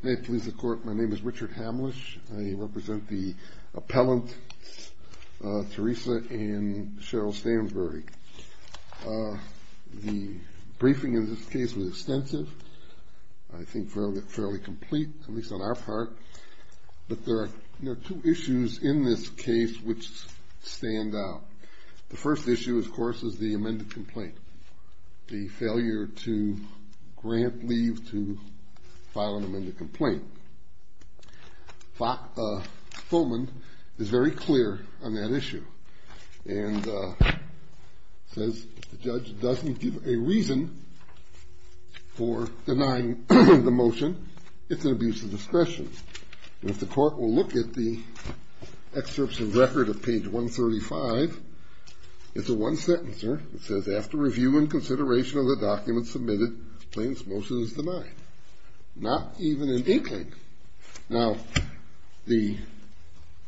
May it please the Court, my name is Richard Hamlisch. I represent the appellant, Theresa and Cheryl Stansberry. The briefing in this case was extensive, I think fairly complete, at least on our part, but there are two issues in this case which stand out. The first issue, of course, is the amended complaint, the failure to grant leave to file an amended complaint. Fulman is very clear on that issue and says the judge doesn't give a reason for denying the motion, it's an abuse of discretion. And if the Court will look at the excerpts from the record of page 135, it's a one-sentencer, it says, after review and consideration of the document submitted, the plaintiff's motion is denied. Not even an inkling. Now, the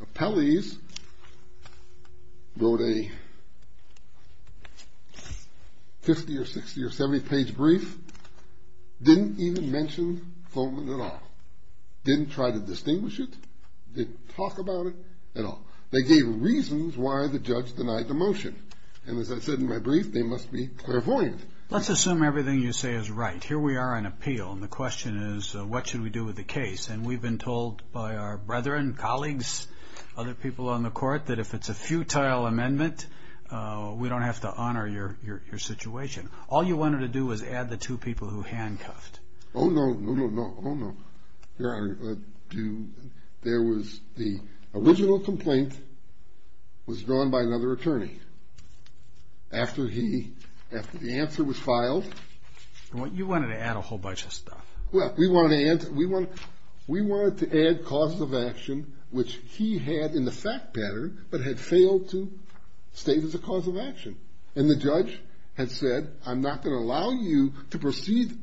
appellees wrote a 50 or 60 or 70 page brief, didn't even mention Fulman at all. Didn't try to They gave reasons why the judge denied the motion. And as I said in my brief, they must be clairvoyant. Let's assume everything you say is right. Here we are on appeal, and the question is, what should we do with the case? And we've been told by our brethren, colleagues, other people on the Court, that if it's a futile amendment, we don't have to honor your situation. All you wanted to do was add the two people who handcuffed. Oh no, no, no, oh no. Your Honor, there was the original complaint was drawn by another attorney. After he, after the answer was filed. You wanted to add a whole bunch of stuff. Well, we wanted to add causes of action which he had in the fact pattern, but had failed to state as a cause of action. And the judge had said, I'm not going to allow you to proceed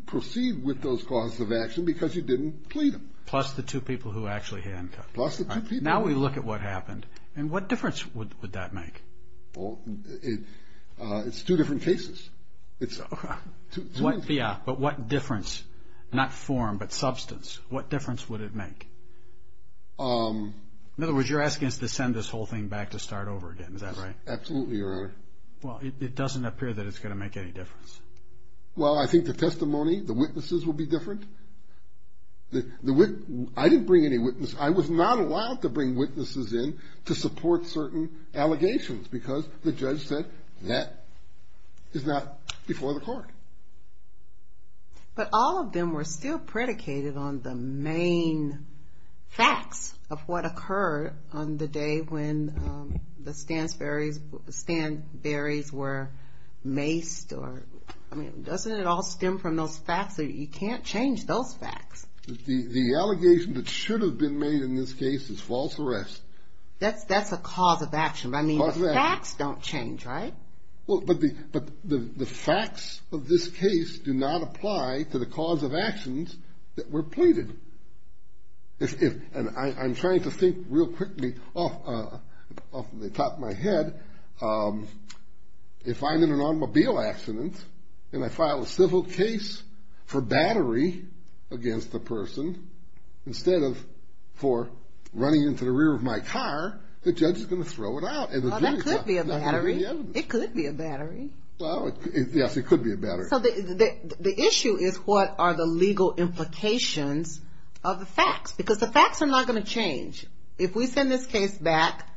with those causes of action because you didn't plead them. Plus the two people who actually handcuffed. Plus the two people. Now we look at what happened, and what difference would that make? It's two different cases. It's two different cases. Yeah, but what difference, not form, but substance, what difference would it make? In other words, you're asking us to send this whole thing back to start over again, is that right? Absolutely, Your Honor. Well, it doesn't appear that it's going to make any difference. Well, I think the testimony, the witnesses will be different. I didn't bring any witnesses. I was not allowed to bring witnesses in to support certain allegations because the judge said that is not before the court. But all of them were still predicated on the main facts of what occurred on the day when the Stansberry's were maced. Doesn't it all stem from those facts? You can't change those facts. The allegation that should have been made in this case is false arrest. That's a cause of action, but the facts don't change, right? Well, but the facts of this case do not apply to the cause of actions that were pleaded. I'm trying to think real quickly off the top of my head. If I'm in an automobile accident and I file a civil case for battery against the person, instead of for running into the rear of my car, the judge is going to throw it out. Well, that could be a battery. It could be a battery. Well, yes, it could be a battery. So the issue is what are the legal implications of the facts? Because the facts are not going to change. If we send this case back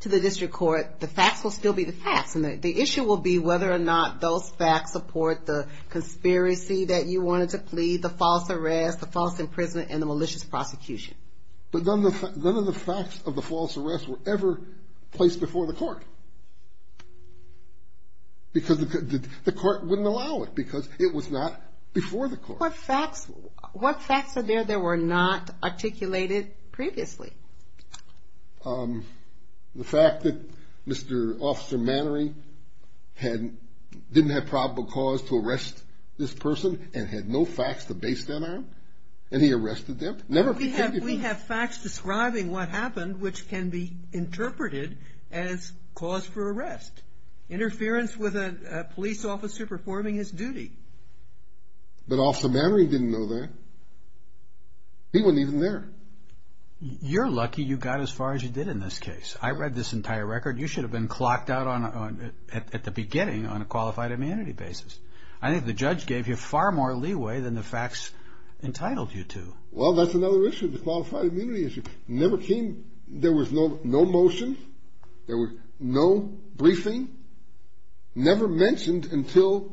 to the district court, the facts will still be the facts. And the issue will be whether or not those facts support the conspiracy that you wanted to plead, the false arrest, the false imprisonment, and the malicious prosecution. But none of the facts of the false arrest were ever placed before the court. Because the court wouldn't allow it because it was not before the court. What facts are there that were not articulated previously? The fact that Mr. Officer Mannery didn't have probable cause to arrest this person and had no facts to base that and he arrested them. We have facts describing what happened, which can be interpreted as cause for arrest. Interference with a police officer performing his duty. But Officer Mannery didn't know that. He wasn't even there. You're lucky you got as far as you did in this case. I read this entire record. You should have been clocked out at the beginning on a qualified immunity basis. I think the judge gave you far more leeway than the facts entitled you to. Well, that's another issue, the qualified immunity issue. There was no motion. There was no briefing. Never mentioned until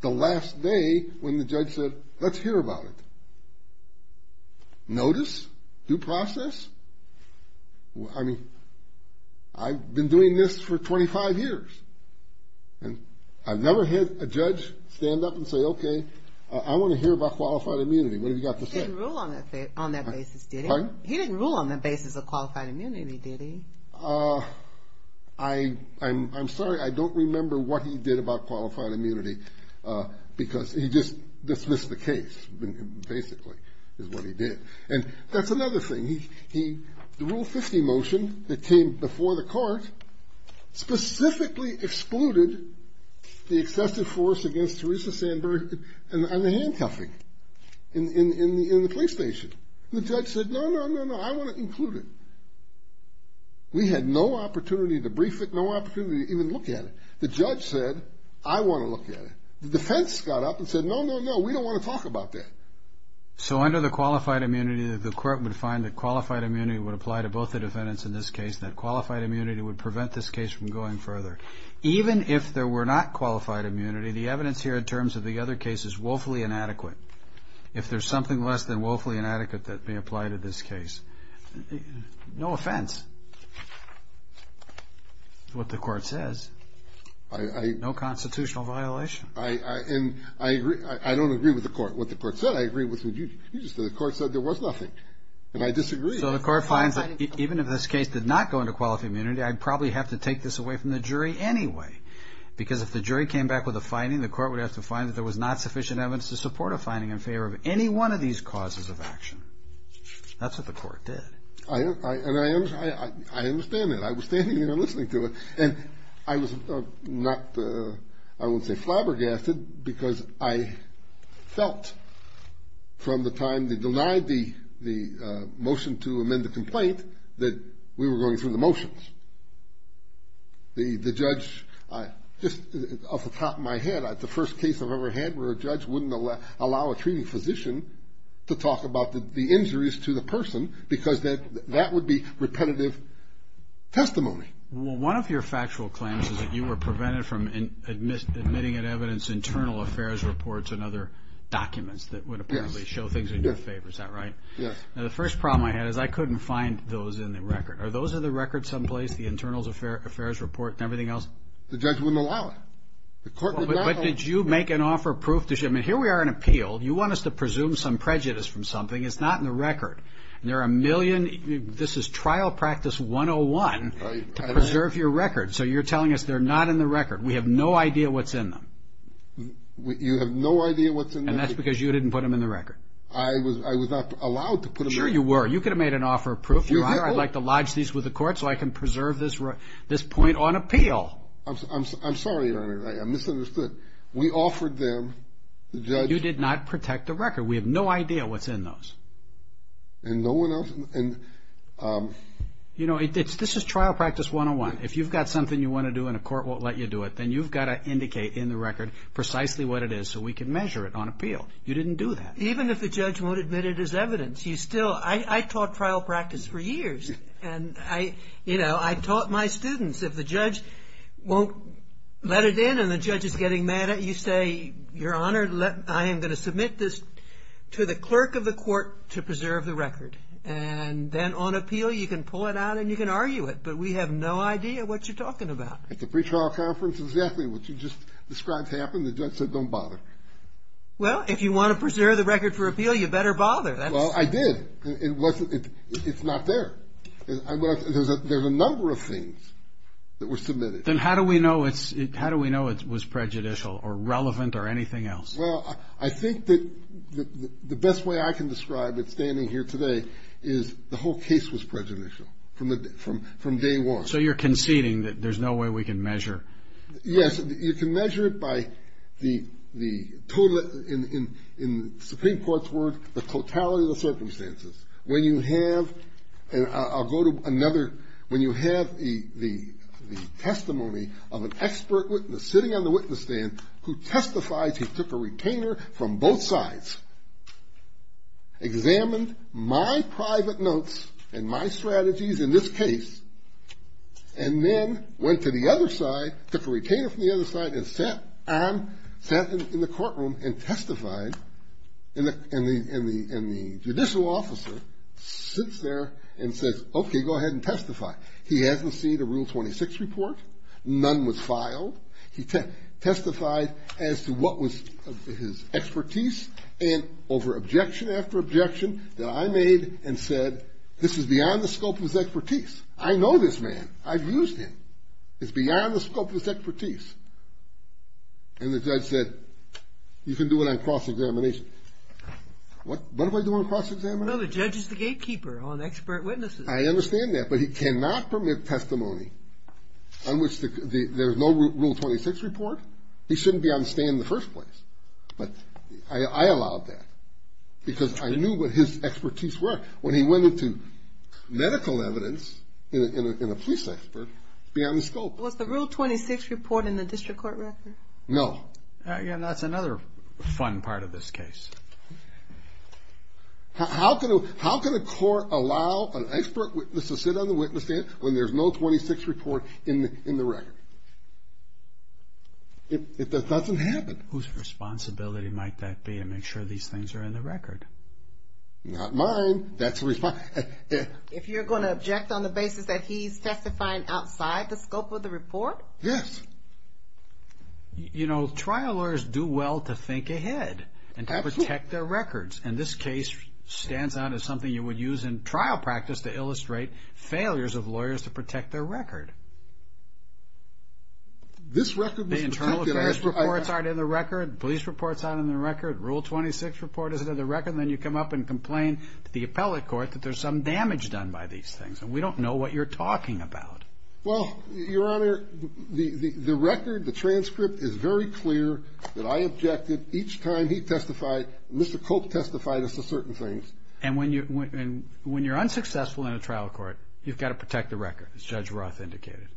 the last day when the judge said, let's hear about it. Notice? Due process? I mean, I've been doing this for 25 years and I've never had a judge stand up and say, okay, I want to hear about qualified immunity. What have you got to say? He didn't rule on that basis, did he? He didn't rule on the basis of qualified immunity, did he? I'm sorry, I don't remember what he did about qualified immunity because he just dismissed the case, basically, is what he did. And that's another thing. The Rule 50 motion that came before the court specifically excluded the excessive force against Teresa Sandberg and the handcuffing in the police station. The judge said, no, no, no, I want to include it. We had no opportunity to brief it, no opportunity to even look at it. The judge said, I want to look at it. The defense got up and said, no, no, no, we don't want to talk about that. So under the qualified immunity, the court would find that qualified immunity would apply to both the defendants in this case, that qualified immunity would prevent this case from going further. Even if there were not qualified immunity, the evidence here in terms of the other case is woefully inadequate. If there's something less than woefully inadequate that may apply to this case, no offense. What the court says, no constitutional violation. I agree. I don't agree with the court, what the court said. I agree with what you just said. The court said there was nothing. And I disagree. So the court finds that even if this case did not go into qualified immunity, I'd probably have to take this away from the jury anyway. Because if the jury came back with a finding, the court would have to find that there was not sufficient evidence to support a finding in favor of any of these causes of action. That's what the court did. I understand that. I was standing here listening to it. And I was not, I wouldn't say flabbergasted, because I felt from the time they denied the motion to amend the complaint that we were going through the motions. The judge, just off the top of my head, the first case I've ever had where a judge wouldn't allow a treating physician to talk about the injuries to the person because that would be repetitive testimony. Well, one of your factual claims is that you were prevented from admitting an evidence internal affairs reports and other documents that would apparently show things in your favor. Is that right? Yes. Now, the first problem I had is I couldn't find those in the record. Are those in the record someplace, the internals affairs report and everything else? The judge wouldn't allow it. The court did not allow it. But did you make an offer of proof? Here we are in appeal. You want us to presume some prejudice from something. It's not in the record. There are a million, this is trial practice 101 to preserve your record. So you're telling us they're not in the record. We have no idea what's in them. You have no idea what's in them? And that's because you didn't put them in the record. I was not allowed to put them in the record. Sure you were. You could have made an offer of proof. I'd like to lodge these with the court so I can You did not protect the record. We have no idea what's in those. And no one else? You know, this is trial practice 101. If you've got something you want to do and a court won't let you do it, then you've got to indicate in the record precisely what it is so we can measure it on appeal. You didn't do that. Even if the judge won't admit it as evidence, you still, I taught trial practice for years and I, you know, I taught my students. If the judge won't let it in and the judge is getting mad at you, say, your honor, let, I am going to submit this to the clerk of the court to preserve the record. And then on appeal, you can pull it out and you can argue it. But we have no idea what you're talking about. At the pretrial conference, exactly what you just described happened. The judge said, don't bother. Well, if you want to preserve the record for appeal, you better bother. Well, I did. It wasn't, it's not there. There's a number of things that were submitted. Then how do we know it's, how do we know it was prejudicial or relevant or anything else? Well, I think that the best way I can describe it standing here today is the whole case was prejudicial from day one. So you're conceding that there's no way we can measure. Yes, you can measure it by the total in Supreme Court. I'll go to another. When you have the testimony of an expert sitting on the witness stand who testifies, he took a retainer from both sides, examined my private notes and my strategies in this case, and then went to the other side, took a retainer from the other side and sat on, sat in the courtroom and testified. And the judicial officer sits there and says, okay, go ahead and testify. He hasn't seen a Rule 26 report. None was filed. He testified as to what was his expertise and over objection after objection that I made and said, this is beyond the scope of his expertise. I know this man. I've used him. It's beyond the scope of his expertise. And the judge said, you can do it on cross-examination. What, what am I doing on cross-examination? No, the judge is the gatekeeper on expert witnesses. I understand that, but he cannot permit testimony on which there's no Rule 26 report. He shouldn't be on the stand in the first place. But I allowed that because I knew what his expertise was. When he went into medical evidence in a police expert, it's beyond the scope. Was the Rule 26 report in the district court record? No. And that's another fun part of this case. How can, how can a court allow an expert witness to sit on the witness stand when there's no 26 report in the record? It doesn't happen. Whose responsibility might that be to make sure these things are in the record? Not mine. That's the response. If you're going to object on the basis that he's testifying outside the scope of the report? Yes. You know, trial lawyers do well to think ahead and to protect their records. And this case stands out as something you would use in trial practice to illustrate failures of lawyers to protect their record. This record was protected. The internal affairs reports aren't in the record. Police reports aren't in the record. Rule 26 report isn't in the record. And then you come up and complain to the appellate court that there's some damage done by these things. And we don't know what you're talking about. Well, Your Honor, the, the, the record, the transcript is very clear that I objected each time he testified. Mr. Cope testified as to certain things. And when you, when you're unsuccessful in a trial court, you've got to protect the record, as Judge Roth indicated.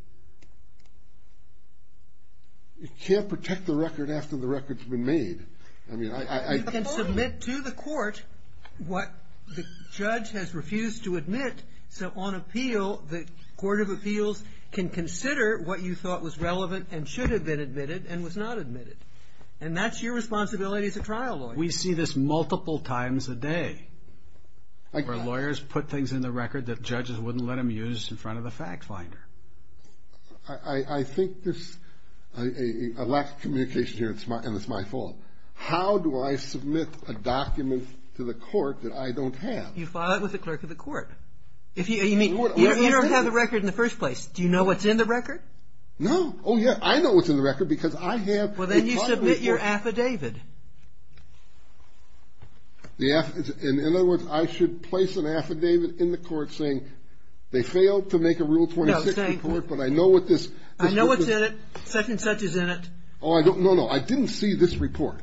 You can't protect the record after the record's been made. I mean, I, I, I. You can submit to the court what the Court of Appeals can consider what you thought was relevant and should have been admitted and was not admitted. And that's your responsibility as a trial lawyer. We see this multiple times a day. I got it. Where lawyers put things in the record that judges wouldn't let them use in front of the fact finder. I, I, I think there's a lack of communication here. It's my, and it's my fault. How do I submit a document to the record in the first place? Do you know what's in the record? No. Oh, yeah. I know what's in the record because I have. Well, then you submit your affidavit. The, in other words, I should place an affidavit in the court saying they failed to make a Rule 26 report, but I know what this. I know what's in it. Such and such is in it. Oh, I don't. No, no. I didn't see this report.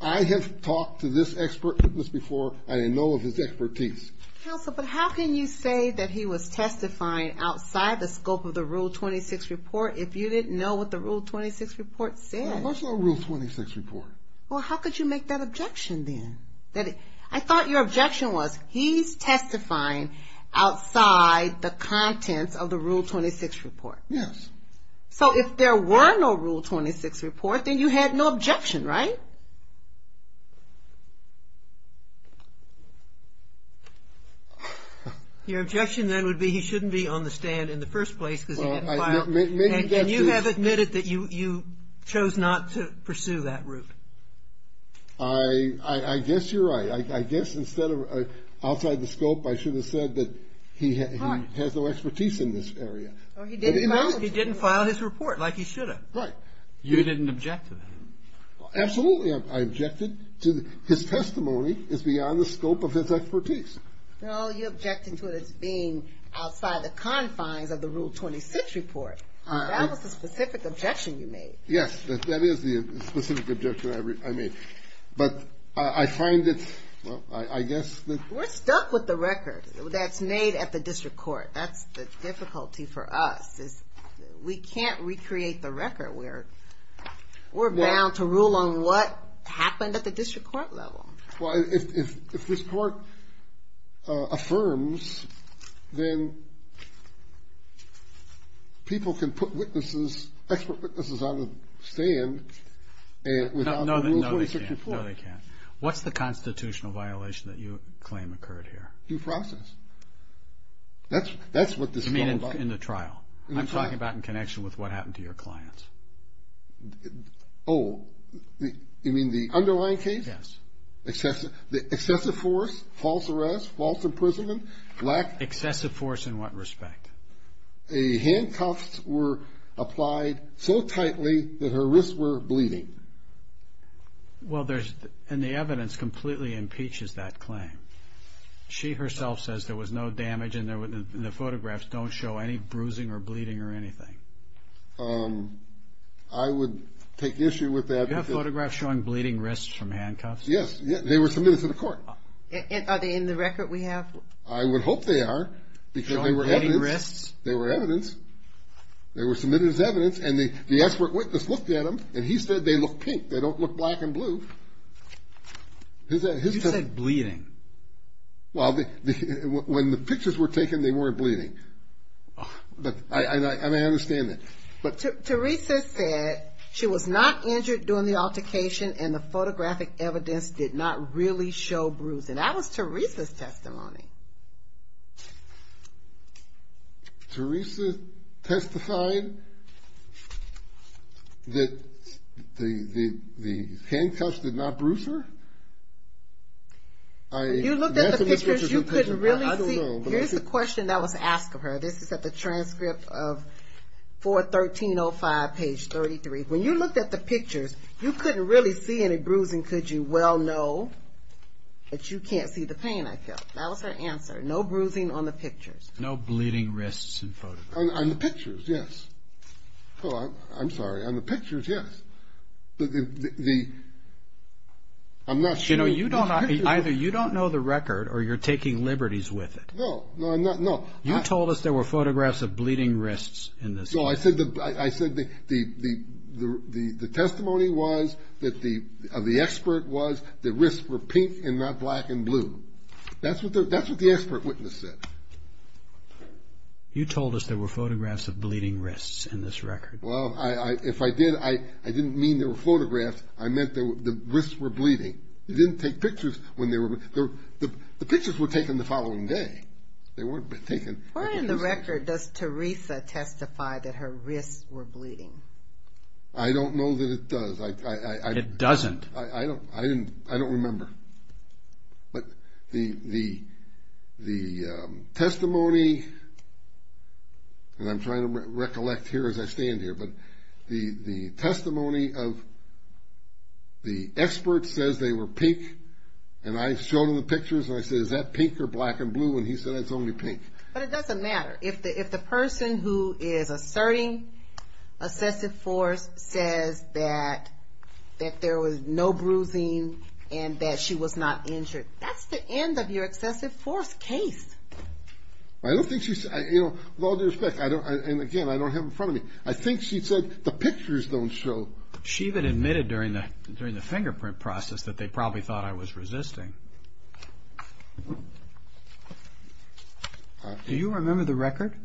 I have talked to this expert witness before. I know of his expertise. Counsel, but how can you say that he was testifying outside the scope of the Rule 26 report if you didn't know what the Rule 26 report said? That's not a Rule 26 report. Well, how could you make that objection then? That I thought your objection was he's testifying outside the contents of the Rule 26 report. Yes. So if there were no Rule 26 report, then you had no objection, right? Your objection, then, would be he shouldn't be on the stand in the first place because he didn't file. And you have admitted that you chose not to pursue that route. I guess you're right. I guess instead of outside the scope, I should have said that he has no expertise in this area. He didn't file his report like he should have. Right. You didn't object to that. Absolutely, I objected to his testimony is beyond the scope of his expertise. No, you objected to it as being outside the confines of the Rule 26 report. That was the specific objection you made. Yes, that is the specific objection I made. But I find it, well, I guess we're stuck with the record that's made at the district court. That's the difficulty for us is we can't recreate the record where we're bound to rule on what happened at the district court level. Well, if this court affirms, then people can put witnesses, expert witnesses on the stand. No, they can't. What's the constitutional violation that you claim occurred here? Due process. That's what this is all about. You mean in the trial? I'm talking about in connection with what happened to your clients. Oh, you mean the underlying case? Yes. The excessive force, false arrest, false imprisonment? Excessive force in what applied so tightly that her wrists were bleeding. Well, there's, and the evidence completely impeaches that claim. She herself says there was no damage and the photographs don't show any bruising or bleeding or anything. I would take issue with that. Do you have photographs showing bleeding wrists from handcuffs? Yes, they were submitted to the court. Are they in the record we evidence? They were submitted as evidence and the expert witness looked at them and he said they look pink. They don't look black and blue. You said bleeding. Well, when the pictures were taken, they weren't bleeding. But I understand that. But Teresa said she was not injured during the altercation and the photographic evidence did not really show bruising. That was Teresa's testimony. Teresa testified that the handcuffs did not bruise her? When you looked at the pictures, you couldn't really see. Here's the question that the pictures, you couldn't really see any bruising, could you? Well, no, but you can't see the pain I felt. That was her answer. No bruising on the pictures. No bleeding wrists in photographs? On the pictures, yes. Oh, I'm sorry. On the pictures, yes. But the, I'm not sure. You know, you don't, either you don't know the record or you're taking liberties with it. No, no, I'm not, no. You told us there were photographs of bleeding wrists in this. No, I said the, I said the, the, the, the, the testimony was that the, of the expert was the wrists were pink and not black and blue. That's what the, that's what the expert witness said. You told us there were photographs of bleeding wrists in this record. Well, I, I, if I did, I, I didn't mean there were photographs. I meant there were, the wrists were In the record, does Teresa testify that her wrists were bleeding? I don't know that it does. I, I, I, I. It doesn't. I, I, I don't, I didn't, I don't remember, but the, the, the testimony, and I'm trying to recollect here as I stand here, but the, the testimony of the expert says they were pink and I showed them the pictures and I said, is that pink or black and blue? And he said it's only pink. But it doesn't matter. If it's the, if the person who is asserting excessive force says that, that there was no bruising and that she was not injured, that's the end of your excessive force case. I don't think she said, you know, with all due respect, I don't, and again, I don't have in front of me, I think she said the pictures don't show. She even admitted during the, during the fingerprint process that they probably thought I was injured.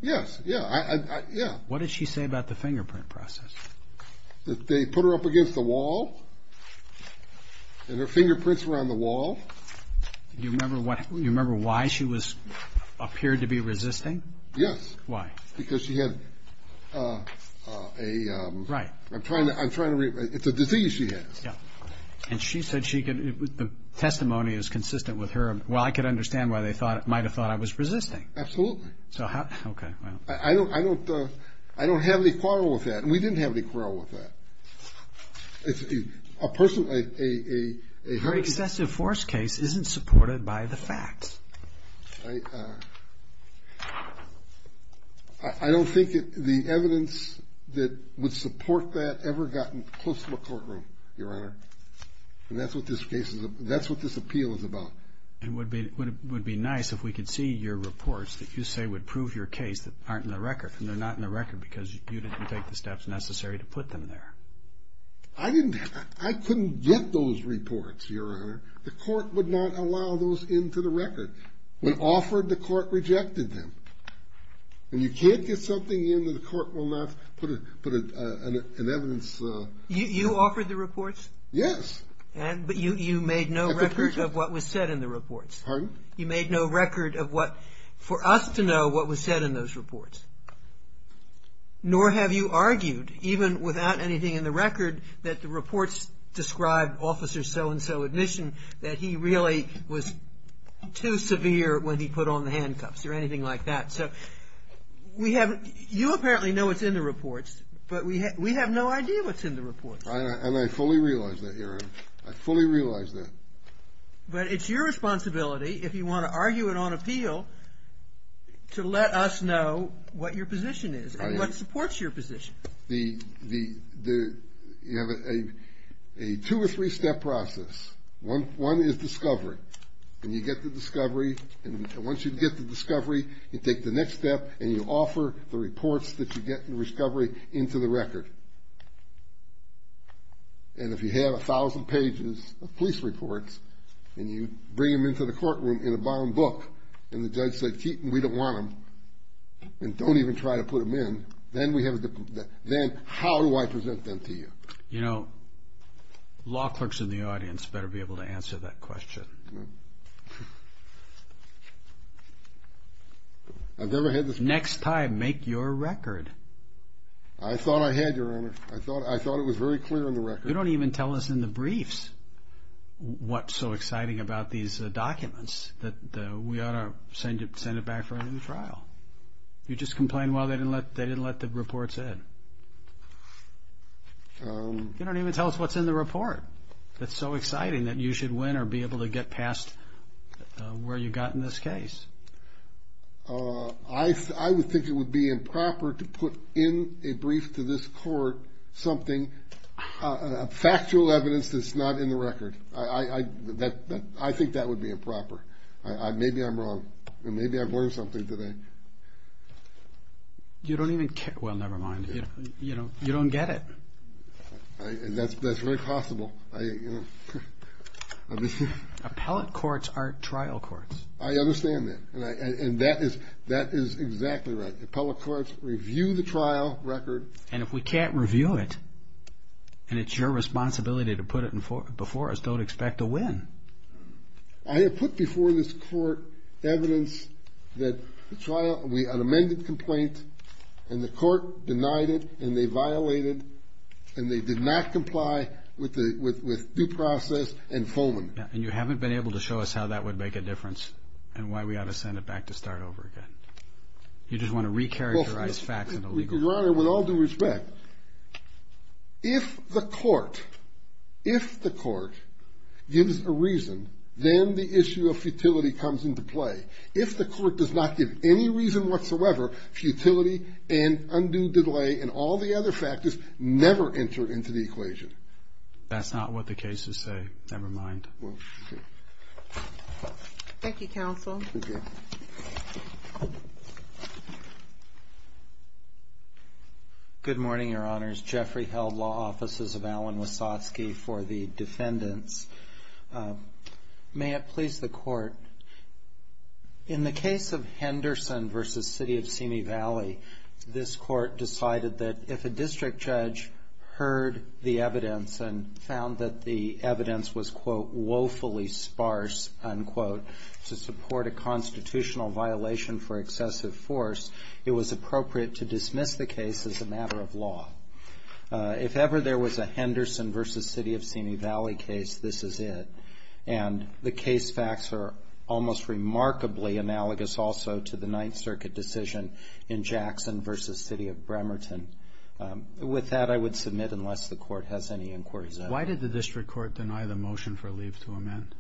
Yes. Yeah. I, I, yeah. What did she say about the fingerprint process? That they put her up against the wall and her fingerprints were on the wall. Do you remember what, you remember why she was, appeared to be resisting? Yes. Why? Because she had a, a, I'm trying to, I'm trying to, it's a disease she has. Yeah. And she said she could, the testimony is consistent with her. Well, I could understand why they thought, might've thought I was resisting. Absolutely. So how, okay. Well, I don't, I don't, I don't have any quarrel with that and we didn't have any quarrel with that. If a person, a, a, a, a very excessive force case isn't supported by the facts. I, uh, I don't think the evidence that would support that ever gotten close to the courtroom, your honor. And that's what this case is. That's what this appeal is about. It would be, it would be nice if we could see your reports that you say would prove your case that aren't in the record and they're not in the record because you didn't take the steps necessary to put them there. I didn't, I couldn't get those reports, your honor. The court would not allow those into the record. When offered, the court rejected them. And you can't get something in that the court will not put a, put a, a, a, an evidence. You, you offered the record of what, for us to know what was said in those reports. Nor have you argued even without anything in the record that the reports described officer so-and-so admission that he really was too severe when he put on the handcuffs or anything like that. So we haven't, you apparently know what's in the reports, but we ha, we have no idea what's in the reports. I, I, and I fully realize that, your honor. I fully realize that. But it's your responsibility, if you want to argue it on appeal, to let us know what your position is and what supports your position. The, the, the, you have a, a, a two or three step process. One, one is discovery. And you get the discovery and once you get the discovery, you take the next step and you offer the reports that you get in the discovery into the record. And if you have a thousand pages of police reports and you bring them into the courtroom in a bound book and the judge said, Keaton, we don't want them and don't even try to put them in, then we have a, then how do I present them to you? You know, law clerks in the audience better be able to answer that question. Next time, make your record. I thought I had, your honor. I thought, I thought it was very clear in the record. You don't even tell us in the briefs what's so exciting about these documents that we ought to send it, send it back for a new trial. You just complained, well, they didn't let, they didn't let the reports in. You don't even tell us what's in the report that's so exciting that you should win or be able to get past where you got in this case. I, I would think it would be improper to put in a brief to this court something, factual evidence that's not in the record. I, I, that, that, I think that would be improper. I, I, maybe I'm wrong. Maybe I've learned something today. You don't even care, well, never mind. You know, you don't get it. I, and that's, that's very possible. I, you know. Appellate courts are trial courts. I understand that. And I, and that is, that is exactly right. Appellate courts review the trial record. And if we can't review it, and it's your responsibility to put it in, before us, don't expect a win. I have put before this court evidence that the trial, we, an amended complaint, and the court denied it, and they violated, and they did not comply with the, with, with due process and fulminant. Yeah, and you haven't been able to show us how that would make a difference, and why we ought to send it back to start over again. You just want to recharacterize facts in a legal way. Your Honor, with all due respect, if the court, if the court gives a reason, then the issue of futility comes into play. If the court does not give any reason whatsoever, futility and undue delay and all the other factors never enter into the equation. That's not what the cases say. Never mind. Well, okay. Thank you, counsel. Okay. Good morning, Your Honors. Jeffrey Held, Law Offices of Alan Wasatsky for the defendants. May it please the court. In the case of Henderson v. City of Simi Valley, this court decided that if a district judge heard the evidence and found that the evidence was, quote, If ever there was a Henderson v. City of Simi Valley case, this is it. And the case facts are almost remarkably analogous also to the Ninth Circuit decision in Jackson v. City of Bremerton. With that, I would submit, unless the court has any inquiries. Why did the district court deny the motion for leave to amend?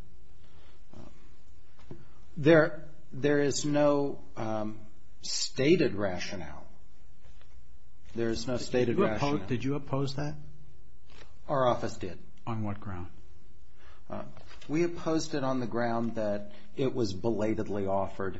There is no stated rationale. There is no stated rationale. Did you oppose that? Our office did. On what ground? We opposed it on the ground that it was belatedly offered,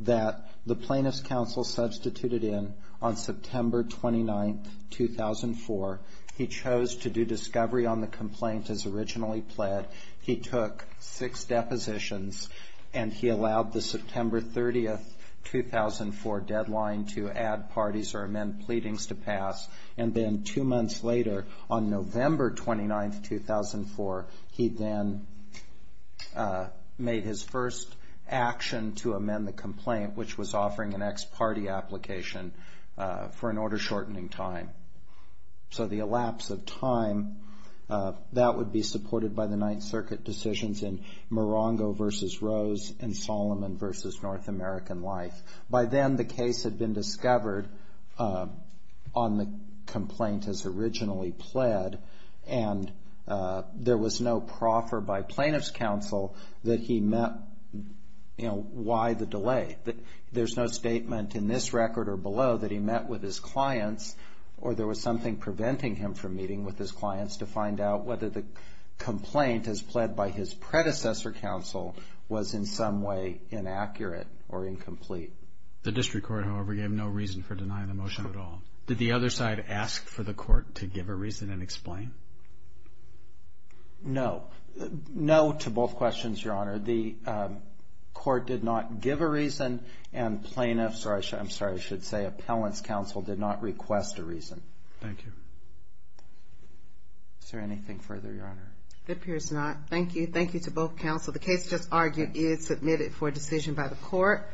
that the plaintiff's counsel substituted in on September 29, 2004. He chose to do discovery on the complaint as originally pled. He took six depositions, and he allowed the September 30, 2004 deadline to add parties or amend pleadings to pass. And then two months later, on November 29, 2004, he then made his first action to amend the complaint, which was offering an ex parte application for an order shortening time. So the elapse of time, that would be supported by the Ninth Circuit decisions in Morongo v. Rose and Solomon v. North American Life. By then, the case had been discovered on the complaint as originally pled, and there was no proffer by plaintiff's counsel that he met, you know, why the delay? There's no statement in this record or below that he met with his clients, or there was something preventing him from meeting with his clients to find out whether the complaint as pled by his predecessor counsel was in some way inaccurate or incomplete. The district court, however, gave no reason for denying the motion at all. Did the other side ask for the court to give a reason and explain? No. No to both questions, Your Honor. The court did not give a reason, and plaintiffs, or I'm sorry, I should say appellants' counsel did not request a reason. Thank you. Is there anything further, Your Honor? It appears not. Thank you. Thank you to both counsel. The case just argued is submitted for decision by the court.